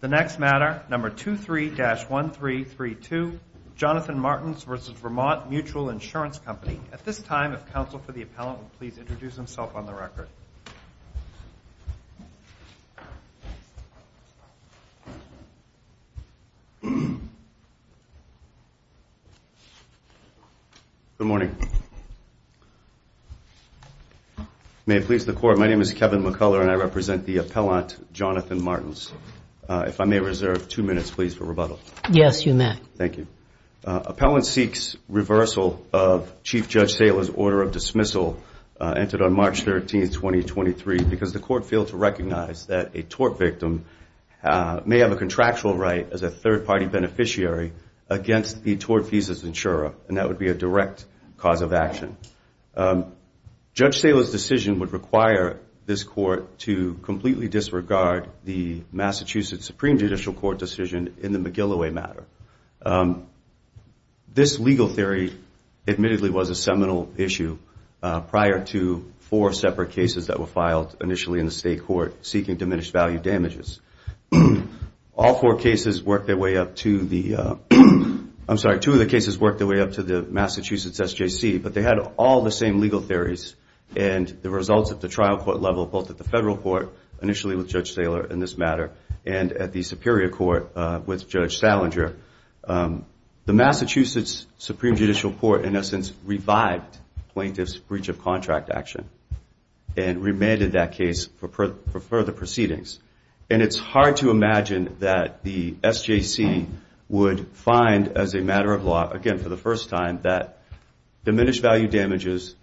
The next matter, number 23-1332, Jonathan Martins v. Vermont Mutual Insurance Company. At this time, if counsel for the appellant would please introduce himself on the record. Good morning. May it please the Court, my name is Kevin McCuller and I represent the appellant, Jonathan Martins. If I may reserve two minutes, please, for rebuttal. Yes, you may. Thank you. Appellant seeks reversal of Chief Judge Saylor's order of dismissal entered on March 13, 2023 because the Court failed to recognize that a tort victim may have a contractual right as a third-party beneficiary against the tort thesis insurer, and that would be a direct cause of action. Judge Saylor's decision would require this Court to completely disregard the Massachusetts Supreme Judicial Court decision in the McGilloway matter. This legal theory admittedly was a seminal issue prior to four separate cases that were filed initially in the State Court seeking diminished value damages. All four cases worked their way up to the, I'm sorry, two of the cases worked their way up to the Massachusetts SJC, but they had all the same legal theories, and the results at the trial court level, both at the Federal Court, initially with Judge Saylor in this matter, and at the Superior Court with Judge Salinger, the Massachusetts Supreme Judicial Court, in essence, revived plaintiff's breach of contract action and remanded that case for further proceedings. And it's hard to imagine that the SJC would find, as a matter of law, again, for the first time, that diminished value damages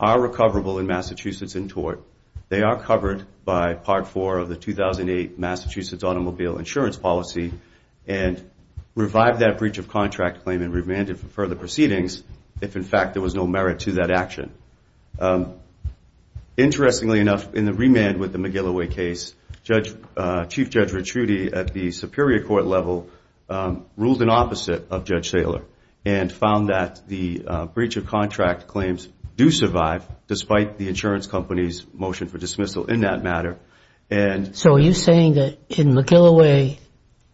are recoverable in Massachusetts in tort. They are covered by Part 4 of the 2008 Massachusetts Automobile Insurance Policy and revived that breach of contract claim and remanded for further proceedings if, in fact, there was no merit to that action. Interestingly enough, in the remand with the McGilloway case, Chief Judge Ricciuti at the Superior Court level ruled in opposite of Judge Saylor and found that the breach of contract claims do survive, despite the insurance company's motion for dismissal in that matter. So are you saying that in McGilloway,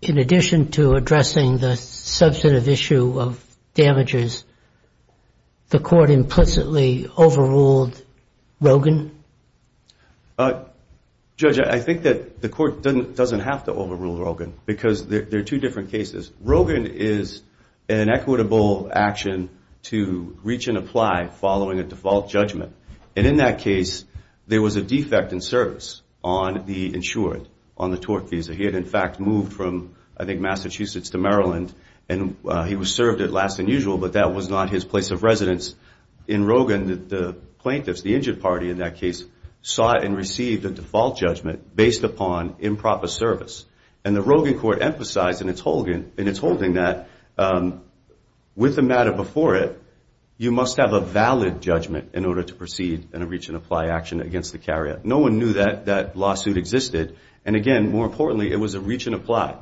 in addition to addressing the substantive issue of damages, the court implicitly overruled Rogin? Judge, I think that the court doesn't have to overrule Rogin because there are two different cases. Rogin is an equitable action to reach and apply following a default judgment. And in that case, there was a defect in service on the insured, on the tort visa. He had, in fact, moved from, I think, Massachusetts to Maryland, and he was served at last and usual, but that was not his place of residence. In Rogin, the plaintiffs, the injured party in that case, sought and received a default judgment based upon improper service. And the Rogin court emphasized in its holding that with the matter before it, you must have a valid judgment in order to proceed in a reach and apply action against the carrier. No one knew that that lawsuit existed. And again, more importantly, it was a reach and apply.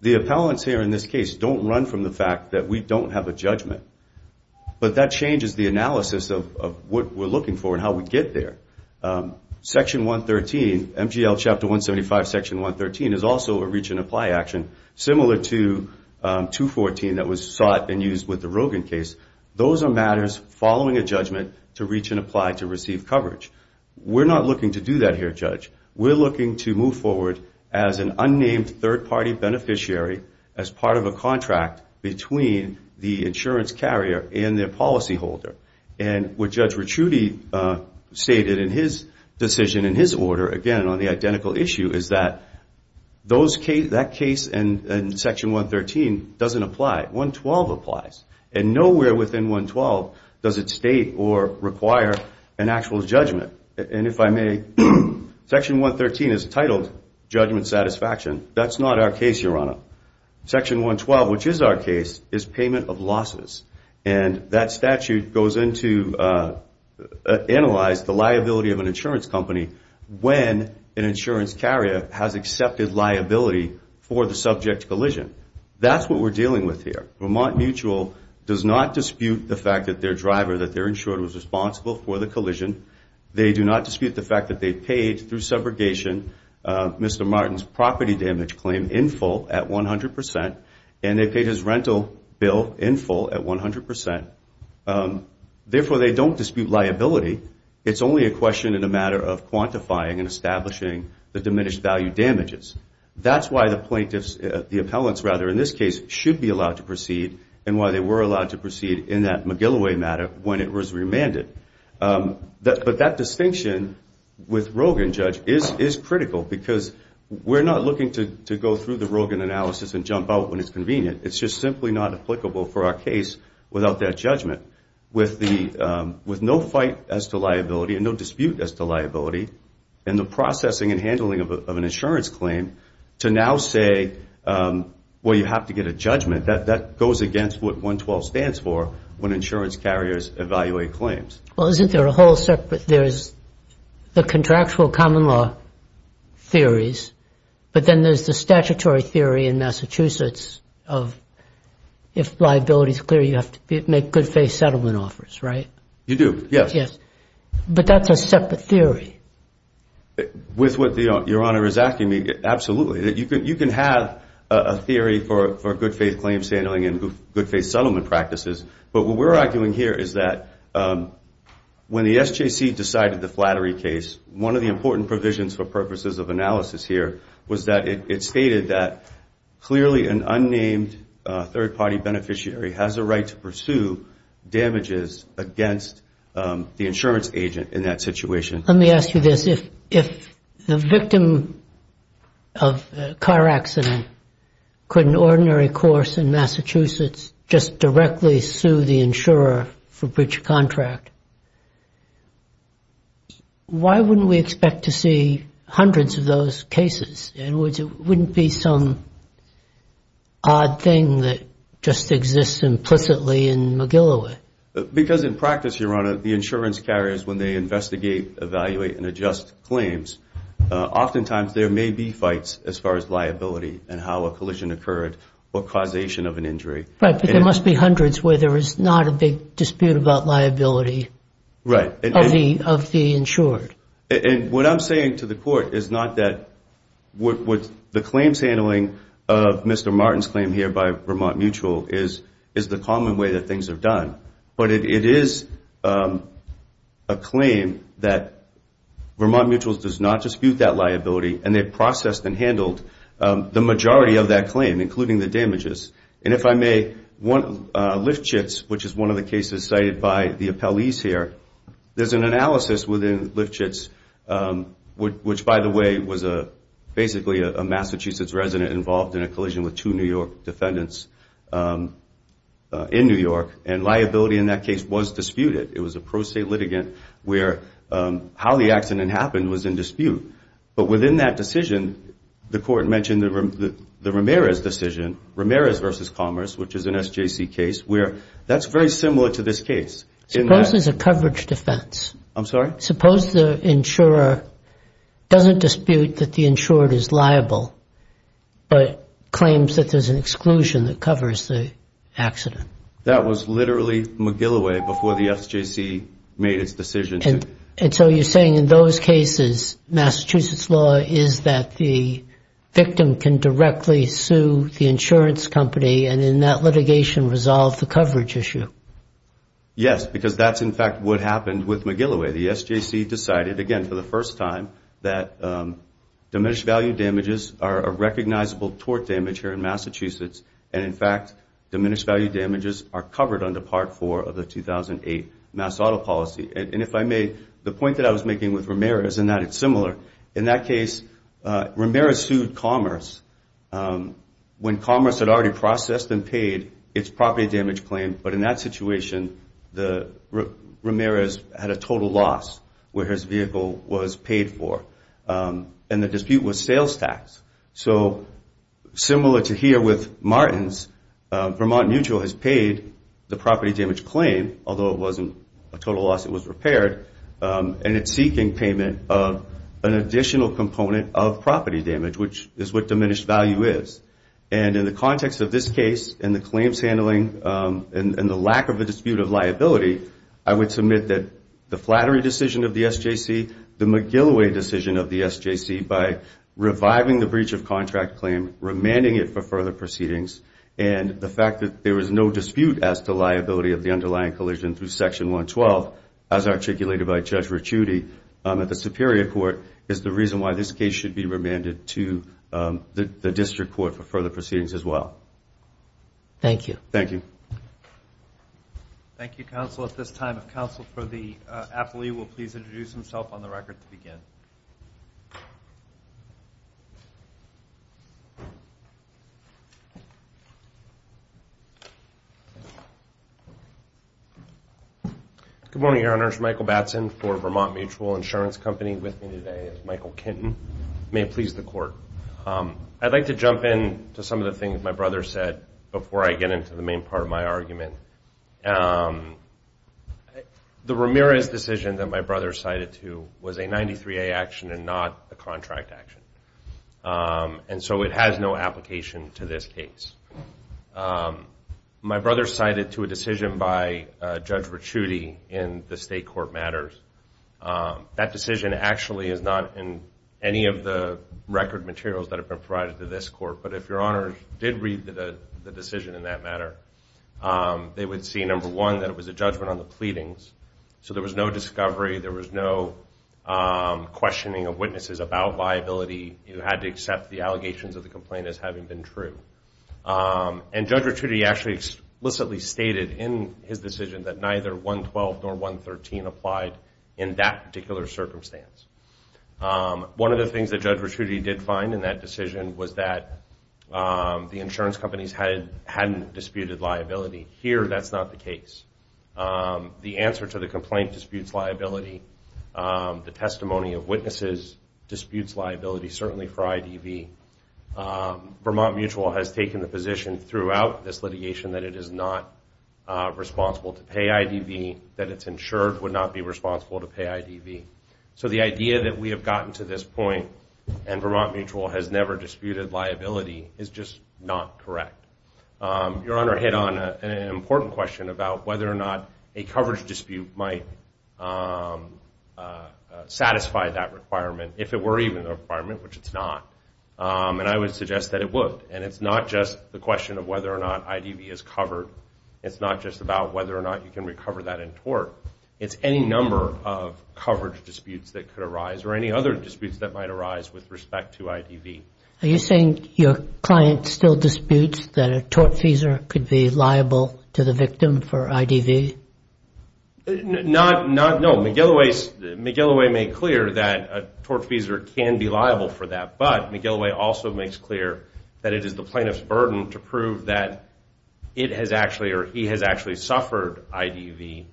The appellants here in this case don't run from the fact that we don't have a judgment. But that changes the analysis of what we're looking for and how we get there. Section 113, MGL Chapter 175, Section 113, is also a reach and apply action, similar to 214 that was sought and used with the Rogin case. Those are matters following a judgment to reach and apply to receive coverage. We're not looking to do that here, Judge. We're looking to move forward as an unnamed third-party beneficiary, as part of a contract between the insurance carrier and their policyholder. And what Judge Ricciuti stated in his decision, in his order, again, on the identical issue, is that that case in Section 113 doesn't apply. 112 applies. And nowhere within 112 does it state or require an actual judgment. And if I may, Section 113 is titled Judgment Satisfaction. That's not our case, Your Honor. Section 112, which is our case, is payment of losses. And that statute goes in to analyze the liability of an insurance company when an insurance carrier has accepted liability for the subject collision. That's what we're dealing with here. Vermont Mutual does not dispute the fact that their driver, that their insurer, was responsible for the collision. They do not dispute the fact that they paid, through subrogation, Mr. Martin's property damage claim in full, at 100 percent, and they paid his rental bill in full at 100 percent. Therefore, they don't dispute liability. It's only a question and a matter of quantifying and establishing the diminished value damages. That's why the plaintiffs, the appellants, rather, in this case, should be allowed to proceed, and why they were allowed to proceed in that McGilloway matter when it was remanded. But that distinction with Rogin, Judge, is critical, because we're not looking to go through the Rogin analysis and jump out when it's convenient. It's just simply not applicable for our case without that judgment. With no fight as to liability and no dispute as to liability, and the processing and handling of an insurance claim to now say, well, you have to get a judgment, that goes against what 112 stands for when insurance carriers evaluate claims. Well, isn't there a whole separate, there's the contractual common law theories, but then there's the statutory theory in Massachusetts of if liability is clear, you have to make good faith settlement offers, right? You do, yes. But that's a separate theory. With what Your Honor is asking me, absolutely. You can have a theory for good faith claim settling and good faith settlement practices, but what we're arguing here is that when the SJC decided the flattery case, one of the important provisions for purposes of analysis here was that it stated that clearly an unnamed third-party beneficiary has a right to pursue damages against the insurance agent in that situation. Let me ask you this. If the victim of a car accident could an ordinary course in Massachusetts just directly sue the insurer for breach of contract, why wouldn't we expect to see hundreds of those cases? In other words, it wouldn't be some odd thing that just exists implicitly in McGilloway. Because in practice, Your Honor, the insurance carriers, when they investigate, evaluate, and adjust claims, oftentimes there may be fights as far as liability and how a collision occurred or causation of an injury. Right, but there must be hundreds where there is not a big dispute about liability of the insured. And what I'm saying to the Court is not that the claims handling of Mr. Martin's claim here by Vermont Mutual is the common way that things are done, but it is a claim that Vermont Mutual does not dispute that liability, and they've processed and handled the majority of that claim, including the damages. And if I may, Liftschitz, which is one of the cases cited by the appellees here, there's an analysis within Liftschitz, which, by the way, was basically a Massachusetts resident involved in a collision with two New York defendants in New York, and liability in that case was disputed. It was a pro se litigant where how the accident happened was in dispute. But within that decision, the Court mentioned the Ramirez decision, Ramirez v. Commerce, which is an SJC case, where that's very similar to this case. Suppose there's a coverage defense. I'm sorry? Suppose the insurer doesn't dispute that the insured is liable, but claims that there's an exclusion that covers the accident. That was literally McGilloway before the SJC made its decision. And so you're saying in those cases Massachusetts law is that the victim can directly sue the insurance company and in that litigation resolve the coverage issue? Yes, because that's, in fact, what happened with McGilloway. The SJC decided, again, for the first time, that diminished value damages are a recognizable tort damage here in Massachusetts, and, in fact, diminished value damages are covered under Part 4 of the 2008 Mass Auto Policy. And if I may, the point that I was making with Ramirez in that it's similar. In that case, Ramirez sued Commerce when Commerce had already processed and paid its property damage claim, but in that situation, Ramirez had a total loss where his vehicle was paid for. And the dispute was sales tax. So similar to here with Martins, Vermont Mutual has paid the property damage claim, although it wasn't a total loss, it was repaired, and it's seeking payment of an additional component of property damage, which is what diminished value is. And in the context of this case and the claims handling and the lack of a dispute of liability, I would submit that the Flattery decision of the SJC, the McGilloway decision of the SJC, by reviving the breach of contract claim, remanding it for further proceedings, and the fact that there was no dispute as to liability of the underlying collision through Section 112, as articulated by Judge Ricciuti at the Superior Court, is the reason why this case should be remanded to the District Court for further proceedings as well. Thank you. Thank you. Thank you, counsel. At this time, if counsel for the affilee will please introduce himself on the record to begin. Thank you. Good morning, Your Honors. Michael Batson for Vermont Mutual Insurance Company with me today as Michael Kenton. May it please the Court. I'd like to jump in to some of the things my brother said before I get into the main part of my argument. The Ramirez decision that my brother cited to was a 93A action and not a contract action, and so it has no application to this case. My brother cited to a decision by Judge Ricciuti in the State Court matters. That decision actually is not in any of the record materials that have been provided to this Court, but if Your Honors did read the decision in that matter, they would see, number one, that it was a judgment on the pleadings. So there was no discovery. There was no questioning of witnesses about liability. You had to accept the allegations of the complaint as having been true. And Judge Ricciuti actually explicitly stated in his decision that neither 112 nor 113 applied in that particular circumstance. One of the things that Judge Ricciuti did find in that decision was that the insurance companies hadn't disputed liability. Here, that's not the case. The answer to the complaint disputes liability. The testimony of witnesses disputes liability, certainly for IDV. Vermont Mutual has taken the position throughout this litigation that it is not responsible to pay IDV, that its insured would not be responsible to pay IDV. So the idea that we have gotten to this point and Vermont Mutual has never disputed liability is just not correct. Your Honor hit on an important question about whether or not a coverage dispute might satisfy that requirement, if it were even a requirement, which it's not. And I would suggest that it would. And it's not just the question of whether or not IDV is covered. It's not just about whether or not you can recover that in tort. It's any number of coverage disputes that could arise or any other disputes that might arise with respect to IDV. Are you saying your client still disputes that a tortfeasor could be liable to the victim for IDV? Not, no. McGilloway made clear that a tortfeasor can be liable for that. But McGilloway also makes clear that it is the plaintiff's burden to prove that it has actually or he has actually suffered IDV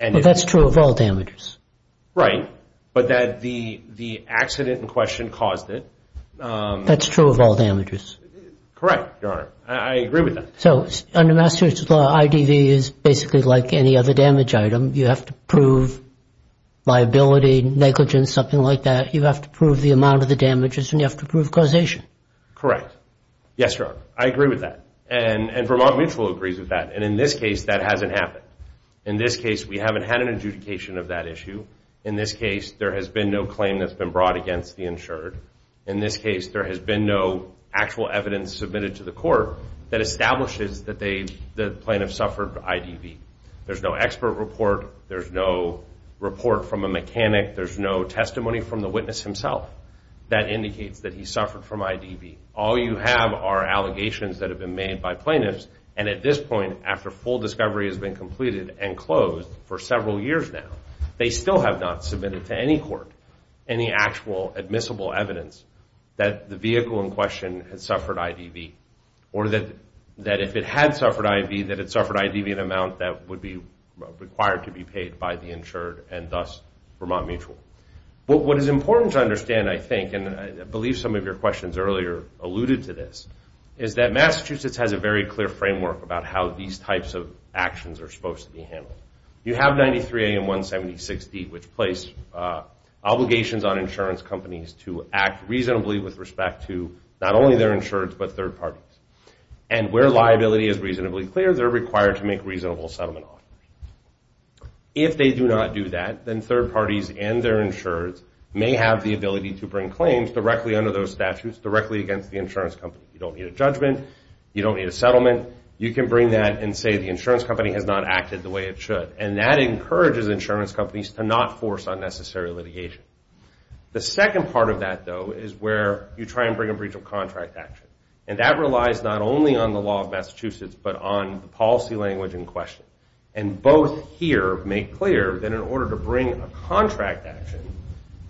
Well, that's true of all damages. Right. But that the accident in question caused it. That's true of all damages. Correct, Your Honor. I agree with that. So under Massachusetts law, IDV is basically like any other damage item. You have to prove liability, negligence, something like that. You have to prove the amount of the damages and you have to prove causation. Correct. Yes, Your Honor. I agree with that. And Vermont Mutual agrees with that. And in this case, that hasn't happened. In this case, we haven't had an adjudication of that issue. In this case, there has been no claim that's been brought against the insured. In this case, there has been no actual evidence submitted to the court that establishes that the plaintiff suffered IDV. There's no expert report. There's no report from a mechanic. There's no testimony from the witness himself that indicates that he suffered from IDV. All you have are allegations that have been made by plaintiffs. And at this point, after full discovery has been completed and closed for several years now, they still have not submitted to any court any actual admissible evidence that the vehicle in question had suffered IDV or that if it had suffered IDV, that it suffered IDV in an amount that would be required to be paid by the insured and thus Vermont Mutual. But what is important to understand, I think, and I believe some of your questions earlier alluded to this, is that Massachusetts has a very clear framework about how these types of actions are supposed to be handled. You have 93A and 176D, which place obligations on insurance companies to act reasonably with respect to not only their insureds but third parties. And where liability is reasonably clear, they're required to make reasonable settlement offers. If they do not do that, then third parties and their insureds may have the ability to bring claims directly under those statutes, directly against the insurance company. You don't need a judgment. You don't need a settlement. You can bring that and say the insurance company has not acted the way it should. And that encourages insurance companies to not force unnecessary litigation. The second part of that, though, is where you try and bring a breach of contract action. And that relies not only on the law of Massachusetts but on the policy language in question. And both here make clear that in order to bring a contract action,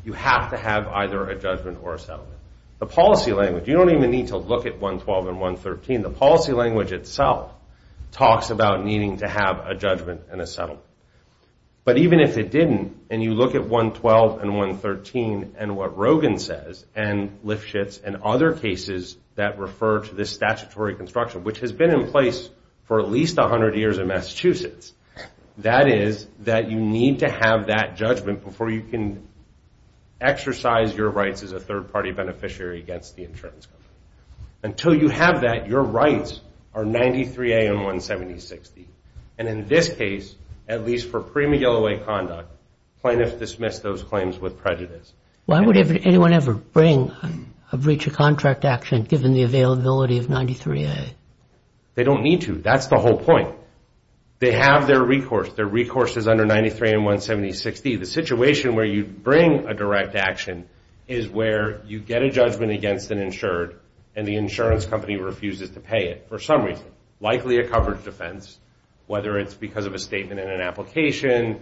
you have to have either a judgment or a settlement. The policy language, you don't even need to look at 112 and 113. The policy language itself talks about needing to have a judgment and a settlement. But even if it didn't and you look at 112 and 113 and what Rogin says and Lifshitz and other cases that refer to this statutory construction, which has been in place for at least 100 years in Massachusetts, that is that you need to have that judgment before you can exercise your rights as a third-party beneficiary against the insurance company. Until you have that, your rights are 93A and 17060. And in this case, at least for prima gala way conduct, plaintiffs dismiss those claims with prejudice. Why would anyone ever bring a breach of contract action given the availability of 93A? They don't need to. That's the whole point. They have their recourse. Their recourse is under 93A and 17060. The situation where you bring a direct action is where you get a judgment against an insured and the insurance company refuses to pay it for some reason, likely a coverage offense, whether it's because of a statement in an application,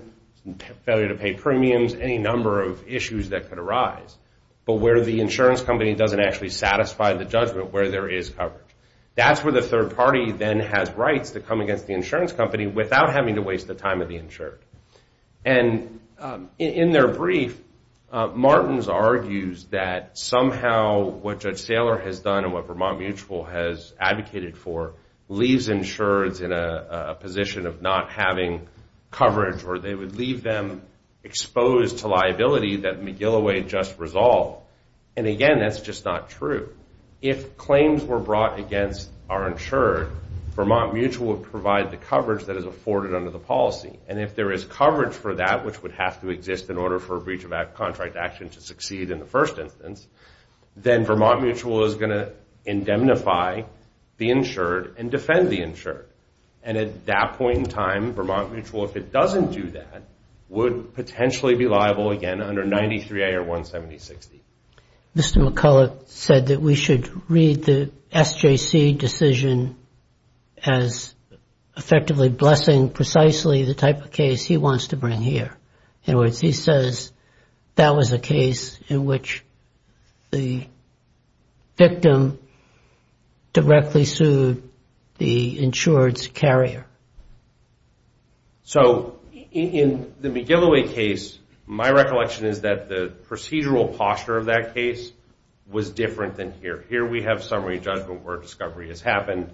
failure to pay premiums, any number of issues that could arise, but where the insurance company doesn't actually satisfy the judgment where there is coverage. That's where the third party then has rights to come against the insurance company without having to waste the time of the insured. And in their brief, Martins argues that somehow what Judge Saylor has done and what Vermont Mutual has advocated for leaves insureds in a position of not having coverage or they would leave them exposed to liability that McGilloway just resolved. And again, that's just not true. If claims were brought against our insured, Vermont Mutual would provide the coverage that is afforded under the policy. And if there is coverage for that, which would have to exist in order for a breach of contract action to succeed in the first instance, then Vermont Mutual is going to indemnify the insured and defend the insured. And at that point in time, Vermont Mutual, if it doesn't do that, would potentially be liable again under 93A or 17060. Mr. McCullough said that we should read the SJC decision as effectively blessing precisely the type of case he wants to bring here. In other words, he says that was a case in which the victim directly sued the insured's carrier. So in the McGilloway case, my recollection is that the procedural posture of that case was different than here. Here we have summary judgment where a discovery has happened.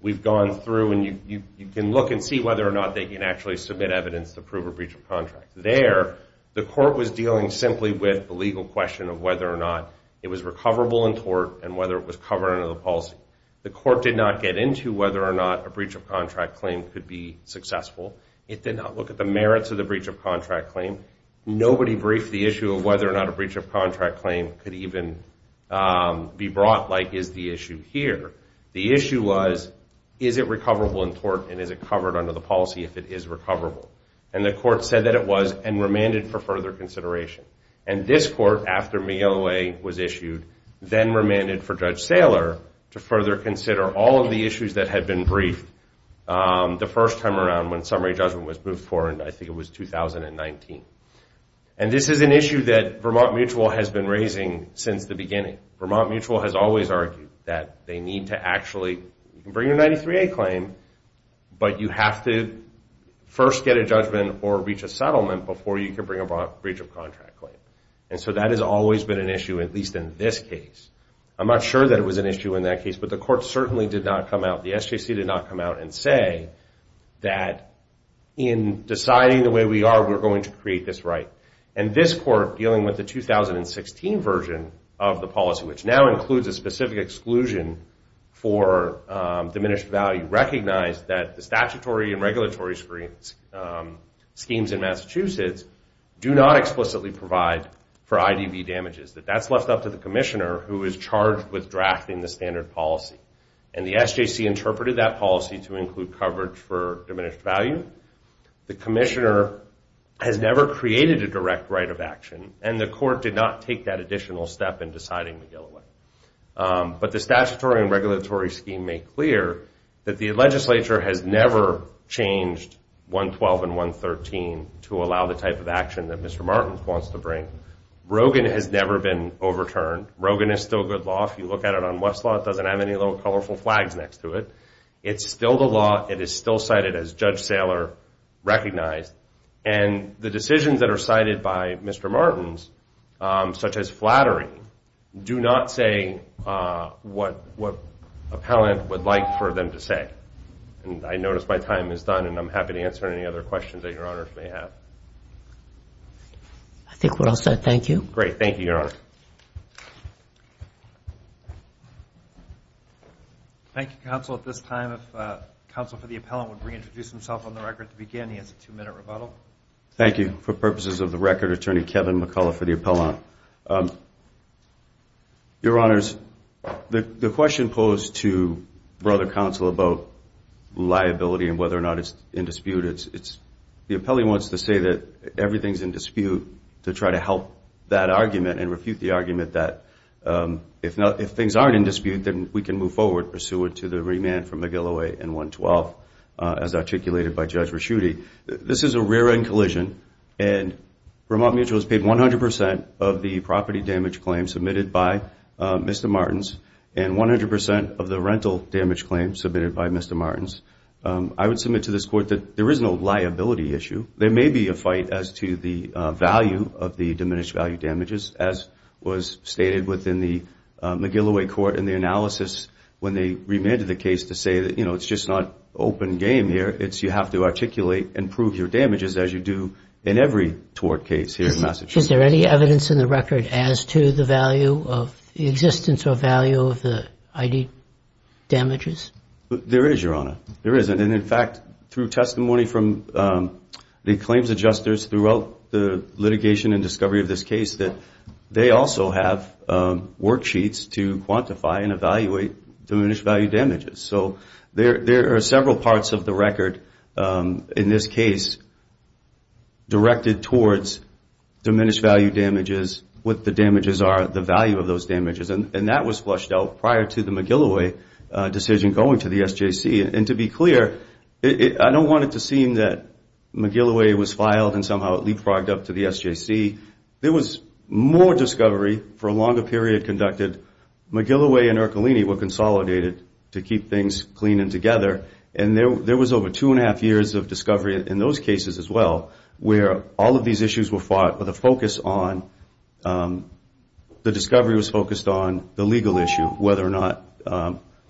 We've gone through and you can look and see whether or not they can actually submit evidence to prove a breach of contract. There, the court was dealing simply with the legal question of whether or not it was recoverable in court and whether it was covered under the policy. The court did not get into whether or not a breach of contract claim could be successful. It did not look at the merits of the breach of contract claim. Nobody briefed the issue of whether or not a breach of contract claim could even be brought like is the issue here. The issue was, is it recoverable in court and is it covered under the policy if it is recoverable? And the court said that it was and remanded for further consideration. And this court, after McGilloway was issued, then remanded for Judge Saylor to further consider all of the issues that had been briefed the first time around when summary judgment was moved forward, I think it was 2019. And this is an issue that Vermont Mutual has been raising since the beginning. Vermont Mutual has always argued that they need to actually bring a 93A claim, but you have to first get a judgment or reach a settlement before you can bring a breach of contract claim. And so that has always been an issue, at least in this case. I'm not sure that it was an issue in that case, but the court certainly did not come out, the SJC did not come out and say that in deciding the way we are, we're going to create this right. And this court, dealing with the 2016 version of the policy, which now includes a specific exclusion for diminished value, recognized that the statutory and regulatory schemes in Massachusetts do not explicitly provide for IDV damages. That that's left up to the commissioner who is charged with drafting the standard policy. And the SJC interpreted that policy to include coverage for diminished value. At this time, the commissioner has never created a direct right of action, and the court did not take that additional step in deciding McGilloway. But the statutory and regulatory scheme made clear that the legislature has never changed 112 and 113 to allow the type of action that Mr. Martins wants to bring. Rogan has never been overturned. Rogan is still good law. If you look at it on Westlaw, it doesn't have any little colorful flags next to it. It's still the law. It is still cited as Judge Saylor recognized. And the decisions that are cited by Mr. Martins, such as flattery, do not say what appellant would like for them to say. And I notice my time is done, and I'm happy to answer any other questions that Your Honor may have. I think we're all set. Thank you. Great. Thank you, Your Honor. Thank you. Thank you, counsel. At this time, if counsel for the appellant would reintroduce himself on the record to begin, he has a two-minute rebuttal. Thank you. For purposes of the record, Attorney Kevin McCullough for the appellant. Your Honors, the question posed to Brother Counsel about liability and whether or not it's in dispute, the appellant wants to say that everything's in dispute to try to help that argument and refute the argument that if things aren't in dispute, then we can move forward pursuant to the remand for McGillow 8 and 112 as articulated by Judge Raschutte. This is a rear-end collision, and Vermont Mutual has paid 100 percent of the property damage claim submitted by Mr. Martins and 100 percent of the rental damage claim submitted by Mr. Martins. I would submit to this court that there is no liability issue. There may be a fight as to the value of the diminished value damages, as was stated within the McGillow 8 court in the analysis when they remanded the case to say that, you know, it's just not open game here. It's you have to articulate and prove your damages as you do in every tort case here in Massachusetts. Is there any evidence in the record as to the value of the existence or value of the ID damages? There is, Your Honor. There is. And in fact, through testimony from the claims adjusters throughout the litigation and discovery of this case, that they also have worksheets to quantify and evaluate diminished value damages. So there are several parts of the record in this case directed towards diminished value damages, what the damages are, the value of those damages. And that was flushed out prior to the McGillow 8 decision going to the SJC. And to be clear, I don't want it to seem that McGillow 8 was filed and somehow it leapfrogged up to the SJC. There was more discovery for a longer period conducted. McGillow 8 and Ercolini were consolidated to keep things clean and together. And there was over two and a half years of discovery in those cases as well where all of these issues were fought with a focus on the discovery was focused on the legal issue, whether or not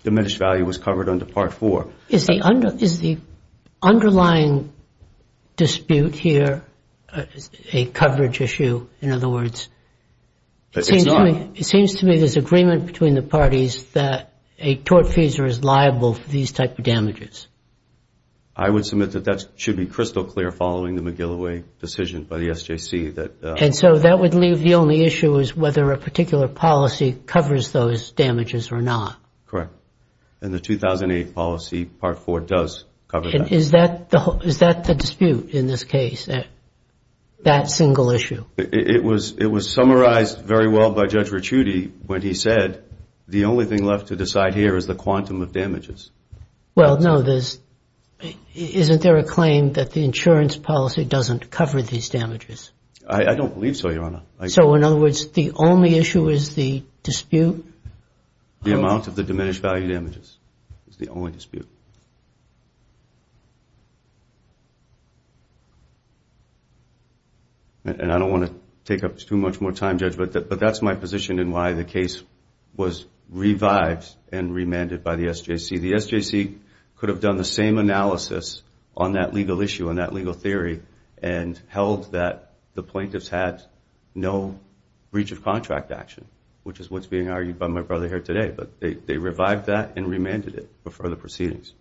diminished value was covered under Part 4. Is the underlying dispute here a coverage issue, in other words? It's not. It seems to me there's agreement between the parties that a tortfeasor is liable for these type of damages. I would submit that that should be crystal clear following the McGillow 8 decision by the SJC. And so that would leave the only issue as whether a particular policy covers those damages or not? Correct. And the 2008 policy Part 4 does cover that. Is that the dispute in this case, that single issue? It was summarized very well by Judge Ricciuti when he said the only thing left to decide here is the quantum of damages. Well, no, isn't there a claim that the insurance policy doesn't cover these damages? I don't believe so, Your Honor. So, in other words, the only issue is the dispute? The amount of the diminished value damages is the only dispute. And I don't want to take up too much more time, Judge, but that's my position in why the case was revived and remanded by the SJC. The SJC could have done the same analysis on that legal issue, on that legal theory, and held that the plaintiffs had no breach of contract action, which is what's being argued by my brother here today. But they revived that and remanded it before the proceedings.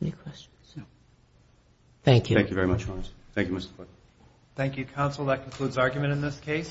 Any questions? No. Thank you. Thank you very much, Your Honor. Thank you, Mr. Clark. Thank you, counsel. That concludes argument in this case.